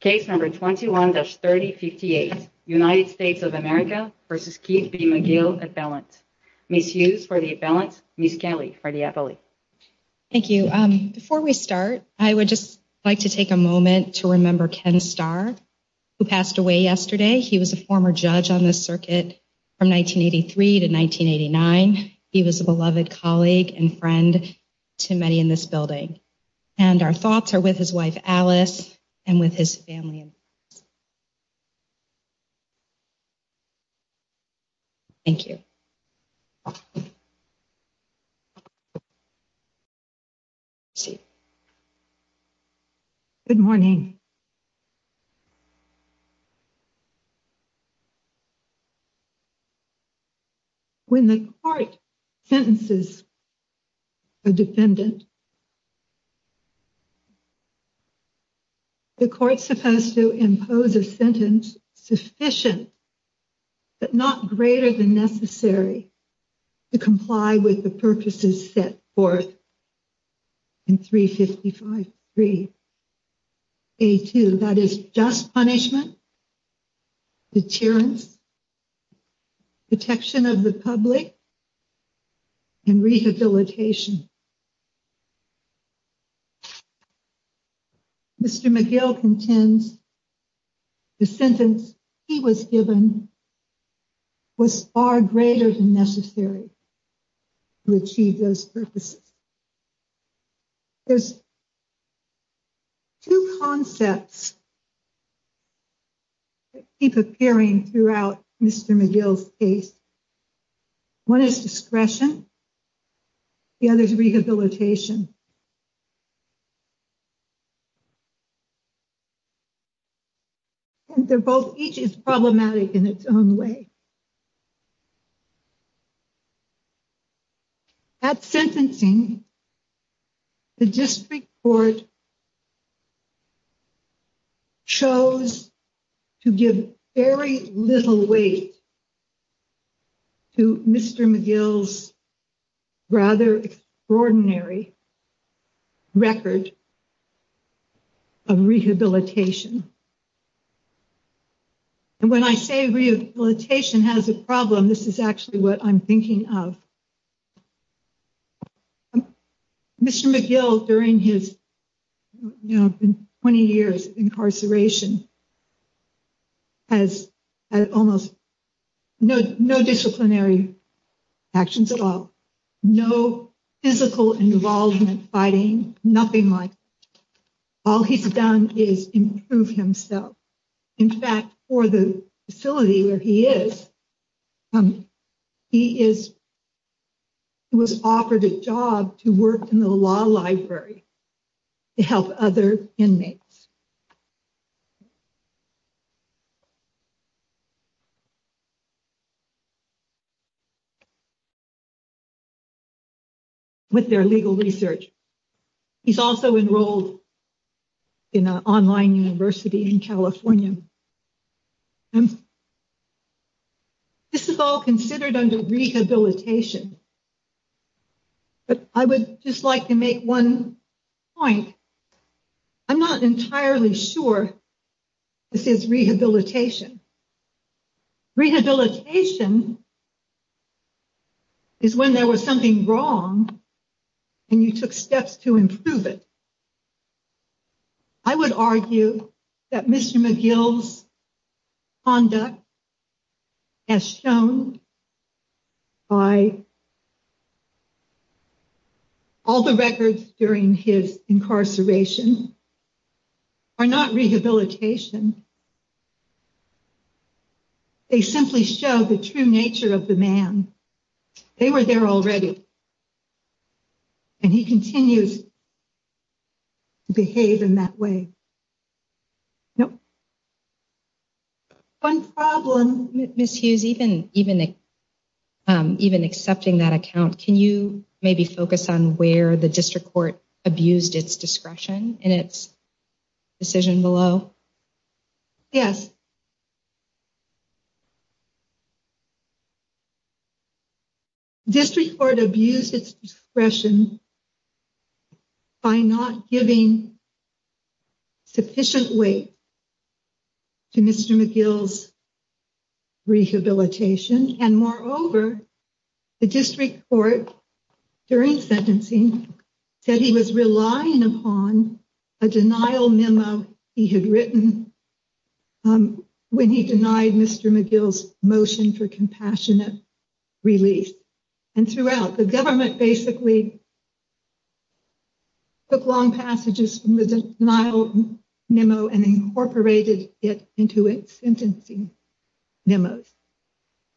Case number 21-3058, United States of America v. Keith B. McGill, Appellant. Ms. Hughes for the Appellant, Ms. Kelly for the Appellant. Thank you. Before we start, I would just like to take a moment to remember Ken Starr, who passed away yesterday. He was a former judge on this circuit from 1983 to 1989. He was a beloved colleague and friend to many in this building. And our thoughts are with his wife Alice and with his family. Thank you. Good morning. When the court sentences a defendant, the court is supposed to impose a sentence sufficient, but not greater than necessary, to comply with the purposes set forth in 355-3A2. That is, just punishment, deterrence, protection of the public, and rehabilitation. Mr. McGill contends the sentence he was given was far greater than necessary to achieve those purposes. There's two concepts that keep appearing throughout Mr. McGill's case. One is discretion. The other is rehabilitation. And they're both, each is problematic in its own way. At sentencing, the district court chose to give very little weight to Mr. McGill's rather extraordinary record of rehabilitation. And when I say rehabilitation has a problem, this is actually what I'm thinking of. Mr. McGill, during his 20 years of incarceration, has had almost no disciplinary actions at all. No physical involvement, fighting, nothing like that. All he's done is improve himself. In fact, for the facility where he is, he was offered a job to work in the law library to help other inmates with their legal research. He's also enrolled in an online university in California. This is all considered under rehabilitation. But I would just like to make one point. I'm not entirely sure this is rehabilitation. Rehabilitation is when there was something wrong and you took steps to improve it. I would argue that Mr. McGill's conduct, as shown by all the records during his incarceration, are not rehabilitation. They simply show the true nature of the man. They were there already. And he continues to behave in that way. One problem, Ms. Hughes, even accepting that account, can you maybe focus on where the district court abused its discretion in its decision below? Yes. District court abused its discretion by not giving sufficient weight to Mr. McGill's rehabilitation. And moreover, the district court, during sentencing, said he was relying upon a denial memo he had written when he denied Mr. McGill's motion for compassionate release. And throughout, the government basically took long passages from the denial memo and incorporated it into its sentencing memos.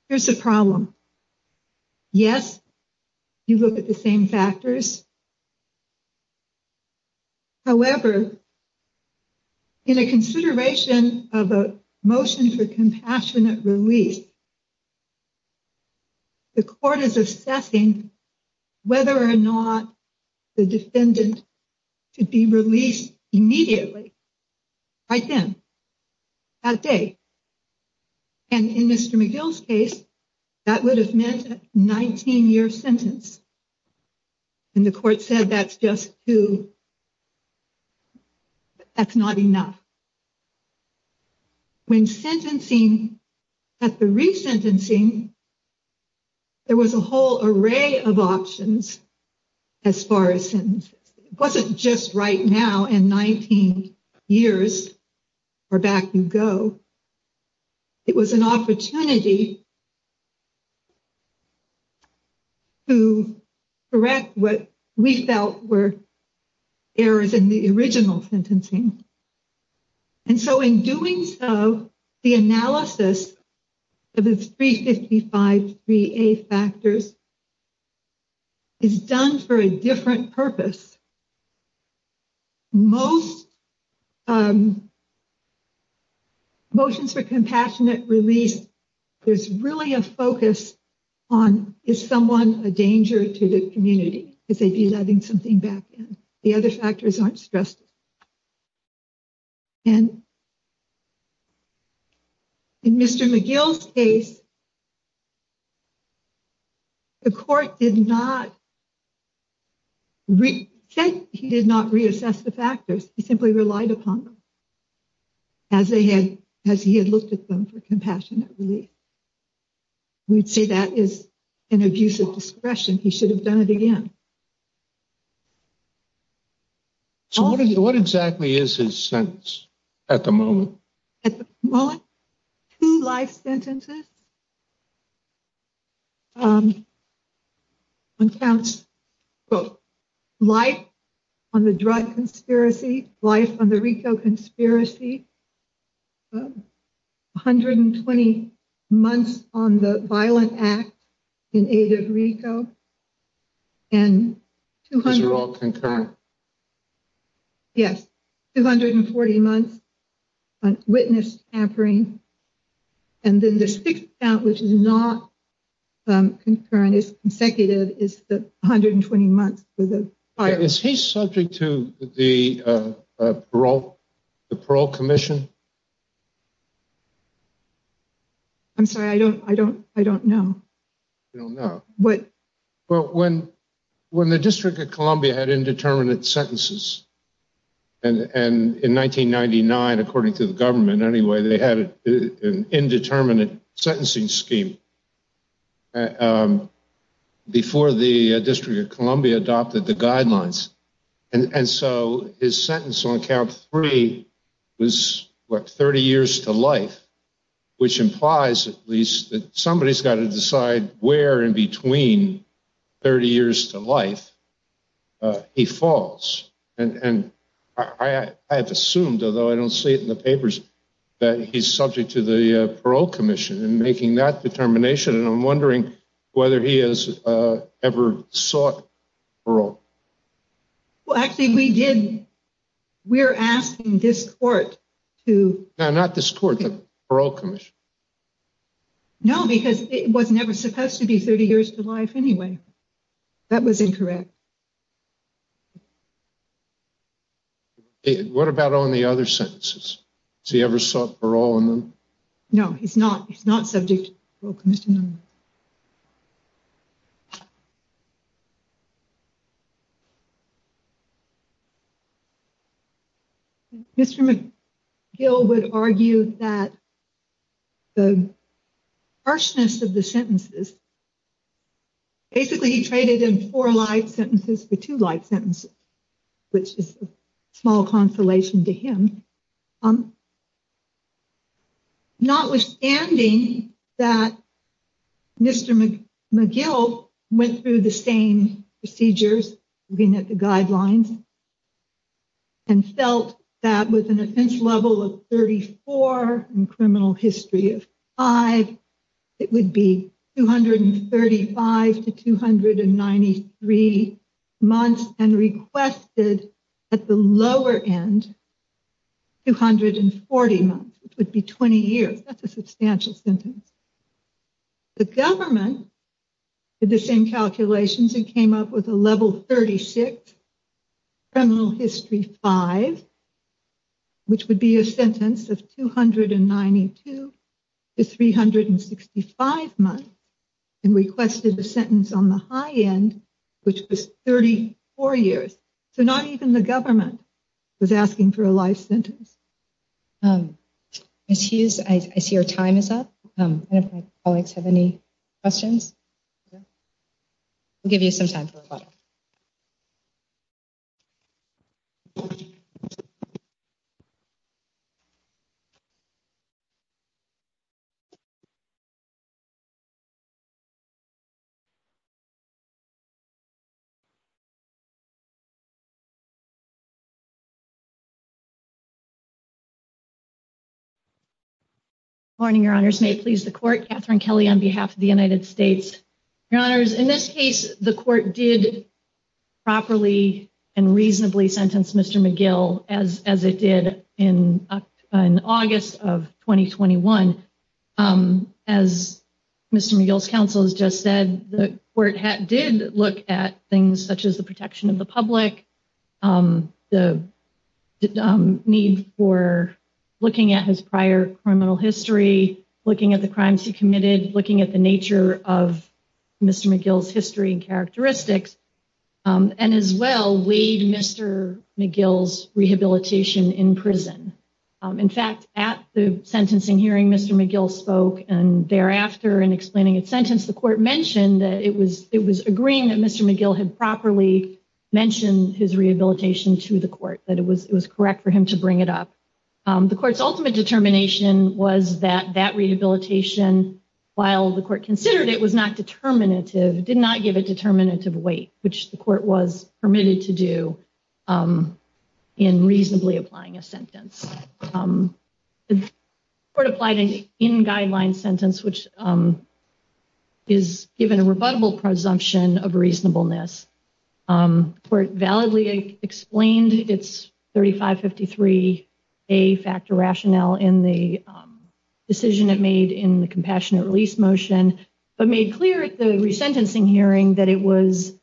Here's the problem. Yes, you look at the same factors. However, in a consideration of a motion for compassionate release, the court is assessing whether or not the defendant should be released immediately, right then, that day. And in Mr. McGill's case, that would have meant a 19-year sentence. And the court said, that's just too, that's not enough. When sentencing, at the resentencing, there was a whole array of options as far as sentence. It wasn't just right now and 19 years or back you go. It was an opportunity to correct what we felt were errors in the original sentencing. And so, in doing so, the analysis of the 355-3A factors is done for a different purpose. Most motions for compassionate release, there's really a focus on, is someone a danger to the community? Is they be letting something back in? The other factors aren't stressed. And in Mr. McGill's case, the court did not, said he did not reassess the factors. He simply relied upon them as he had looked at them for compassionate release. We'd say that is an abuse of discretion. He should have done it again. So, what exactly is his sentence at the moment? At the moment, two life sentences. One counts life on the drug conspiracy, life on the RICO conspiracy, 120 months on the violent act in aid of RICO. Those are all concurrent? Yes. 240 months on witness tampering. And then the sixth count, which is not concurrent, is consecutive, is the 120 months. Is he subject to the parole commission? I'm sorry, I don't know. You don't know. But when the District of Columbia had indeterminate sentences, and in 1999, according to the government anyway, they had an indeterminate sentencing scheme before the District of Columbia adopted the guidelines. And so, his sentence on count three was, what, 30 years to life, which implies at least that somebody's got to decide where in between 30 years to life he falls. And I've assumed, although I don't see it in the papers, that he's subject to the parole commission in making that determination. And I'm we're asking this court to... No, not this court, the parole commission. No, because it was never supposed to be 30 years to life anyway. That was incorrect. What about on the other sentences? Has he ever sought parole on them? No, he's not. He's not subject to the parole commission. Mr. McGill would argue that the harshness of the sentences... Basically, he traded in four life sentences for two life sentences, which is a small consolation to him. Notwithstanding that Mr. McGill went through the same procedures, looking at the guidelines, and felt that with an offense level of 34 and criminal history of five, it would be 235 to 293 months and requested at the lower end, 240 months, which would be 20 years. That's a substantial sentence. The government did the same calculations and came up with a level 36 criminal history five, which would be a sentence of 292 to 365 months and requested a sentence on the high end, which was 34 years. So not even the government was asking for a life sentence. Ms. Hughes, I see your time is up. I don't know if my colleagues have any questions. We'll give you some time for rebuttal. Good morning, your honors. May it please the court, Katherine Kelly on behalf of the United States. Your honors, in this case, the court did properly and reasonably sentence Mr. McGill as it did in August of 2021. As Mr. McGill's counsel has just said, the court did look at the protection of the public, the need for looking at his prior criminal history, looking at the crimes he committed, looking at the nature of Mr. McGill's history and characteristics, and as well, weighed Mr. McGill's rehabilitation in prison. In fact, at the sentencing hearing, Mr. McGill spoke, and thereafter, in explaining his sentence, the court mentioned that it was agreeing that Mr. McGill had properly mentioned his rehabilitation to the court, that it was correct for him to bring it up. The court's ultimate determination was that that rehabilitation, while the court considered it, did not give a determinative weight, which the court was permitted to do in reasonably applying a sentence. The court applied an in-guideline sentence, which is given a rebuttable presumption of reasonableness. The court validly explained its 3553A factor rationale in the decision it made in the compassionate release motion, but made clear at the resentencing hearing that it was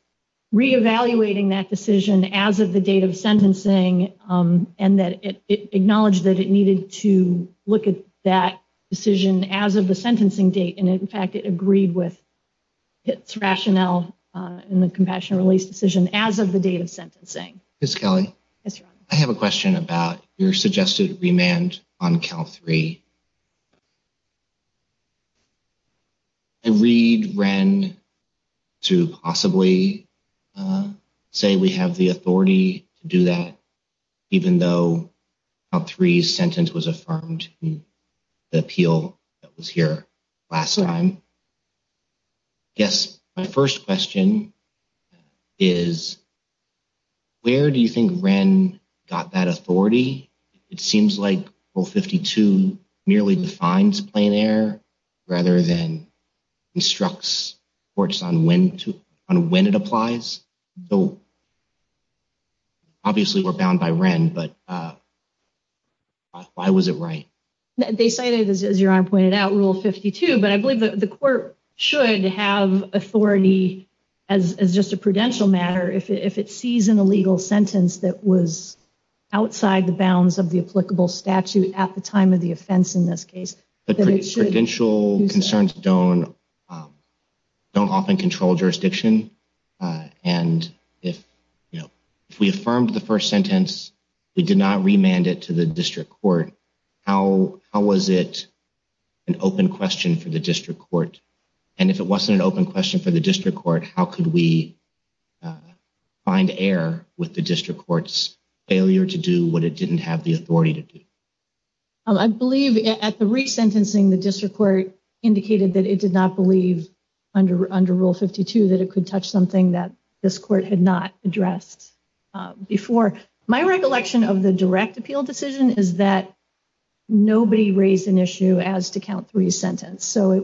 that it needed to look at that decision as of the sentencing date, and in fact, it agreed with its rationale in the compassionate release decision as of the date of sentencing. Ms. Kelly, I have a question about your suggested remand on Cal 3. I read Wren to possibly say we have the authority to do that, even though Cal 3's sentence was affirmed in the appeal that was here last time. Yes, my first question is, where do you think Wren got that authority? It seems like Rule 52 merely defines plain error rather than instructs courts on when it applies. Obviously, we're bound by Wren, but why was it right? They cited, as your Honor pointed out, Rule 52, but I believe the court should have authority as just a prudential matter if it sees an illegal sentence that was outside the bounds of the applicable statute at the time of the offense in this case. The prudential concerns don't often control jurisdiction, and if we affirmed the first sentence, we did not remand it to the district court, how was it an open question for the district court? And if it wasn't an open question for the district court, how could we find error with the district court's failure to do what it didn't have the authority to do? I believe at the resentencing, the district court indicated that it did not believe under Rule 52 that it could touch something that this court had not addressed before. My recollection of the direct appeal decision is that it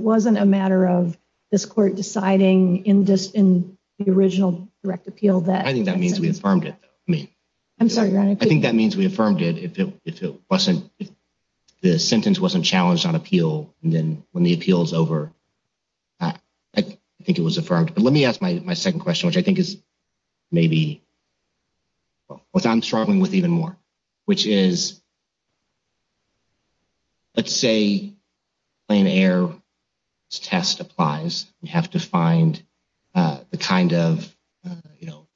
wasn't a matter of this court deciding in the original direct appeal. I think that means we affirmed it. I'm sorry, Your Honor. I think that means we affirmed it if the sentence wasn't challenged on appeal, and then when the appeal is over, I think it was affirmed. But let me ask my second question, which I think is maybe what I'm struggling with even more, which is let's say plain error test applies. You have to find the kind of, you know,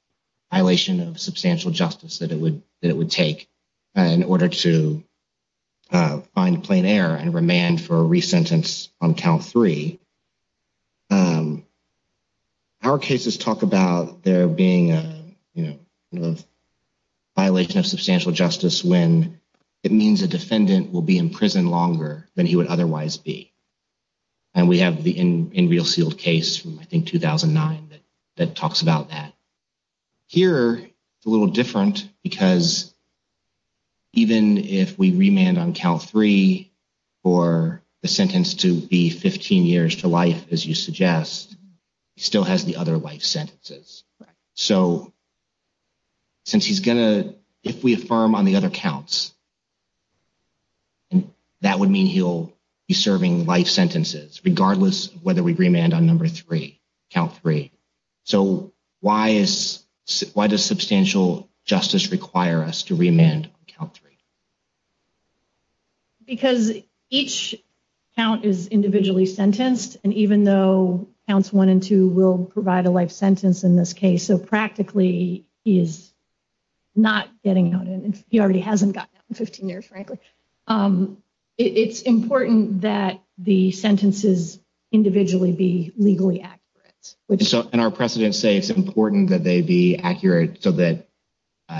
violation of substantial justice that it would take in order to find plain error and remand for a resentence on count three. Our cases talk about there being a, you know, violation of substantial justice when it means a defendant will be in prison longer than he would otherwise be. And we have the in real sealed case from, I think, 2009 that talks about that. Here, it's a little different because even if we remand on count three for the sentence to be 15 years to life, as you suggest, he still has the other life sentences. So since he's going to, if we affirm on the other counts, that would mean he'll be serving life sentences regardless of whether we remand on number three, count three. So why is, why does substantial justice require us to remand on count three? Because each count is individually sentenced, and even though counts one and two will provide a life sentence in this case, so practically he is not getting out, and he already hasn't gotten out in 15 years, frankly. It's important that the sentences individually be legally accurate. So, and our precedents say it's important that they be accurate so that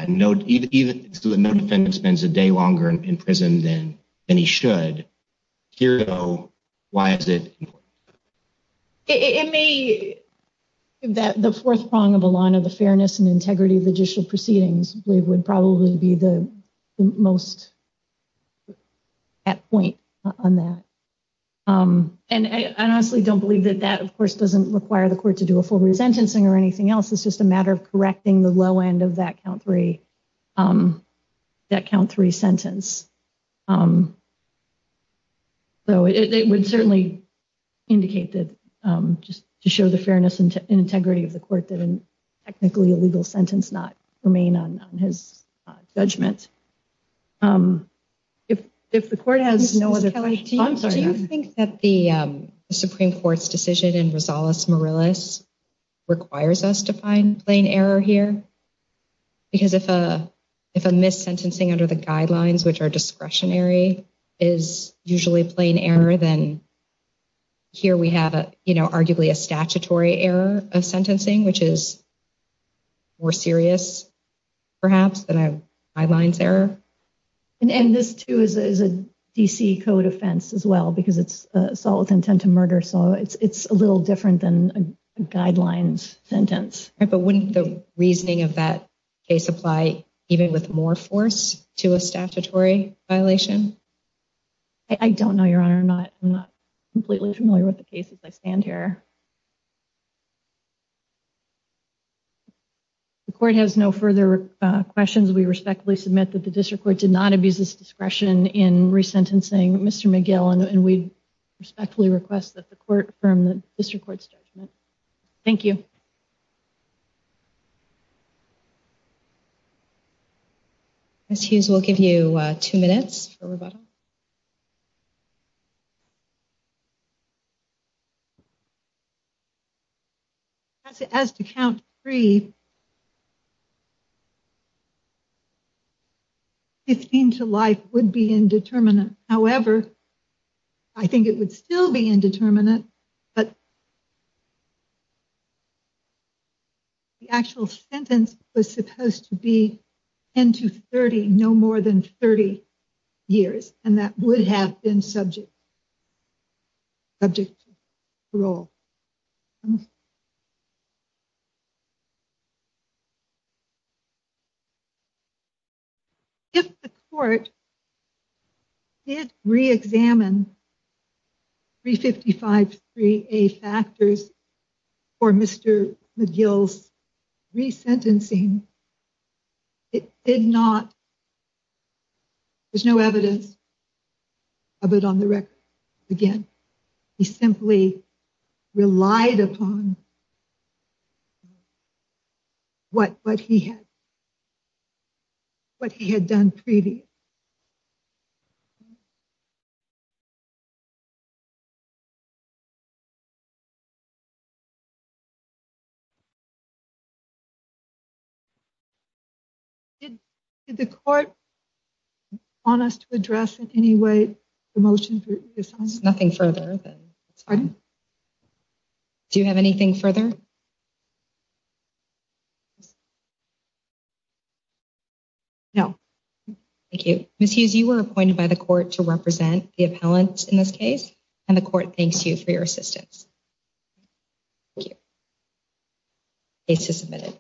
no, even so that no defendant spends a day longer in prison than he should. Here, though, why is it important? It may, the fourth prong of a line of the fairness and integrity of judicial proceedings, I believe, would probably be the most at point on that. And I honestly don't believe that that, of course, doesn't require the court to do a full resentencing or anything else. It's just a matter of correcting the low end of that count three sentence. So it would certainly indicate that just to show the fairness and integrity of the court that a technically illegal sentence not remain on his judgment. If the court has no other, I'm sorry. Do you think that the Supreme Court's decision in Rosales-Morales requires us to find plain error here? Because if a mis-sentencing under the guidelines, which are discretionary, is usually plain error, then here we have, you know, arguably a statutory error of sentencing, which is more serious, perhaps, than a guidelines error. And this, too, is a D.C. code offense as well because it's assault with intent to murder. So it's a little different than a guidelines sentence. But wouldn't the reasoning of that case apply even with more force to a statutory violation? I don't know, Your Honor. I'm not completely familiar with the case as I stand here. The court has no further questions. We respectfully submit that the district court did not abuse its discretion in resentencing Mr. McGill, and we respectfully request that the court affirm the district court's judgment. Thank you. Ms. Hughes, we'll give you two minutes for rebuttal. As to count three, 15 to life would be indeterminate. However, I think it would still be indeterminate, but the actual sentence was supposed to be 10 to 30, no more than 30 years, and that would have been subject to parole. If the court did reexamine 355-3A factors for Mr. McGill's resentencing, it did not, there's no evidence of it on the record. Again, he simply relied upon what he had done previously. Did the court want us to address in any way the motion for reassignment? Nothing further. Pardon? Do you have anything further? No. Thank you. Ms. Hughes, you were appointed by the court to represent the appellants in this case, and the court thanks you for your assistance. Thank you. Case is submitted.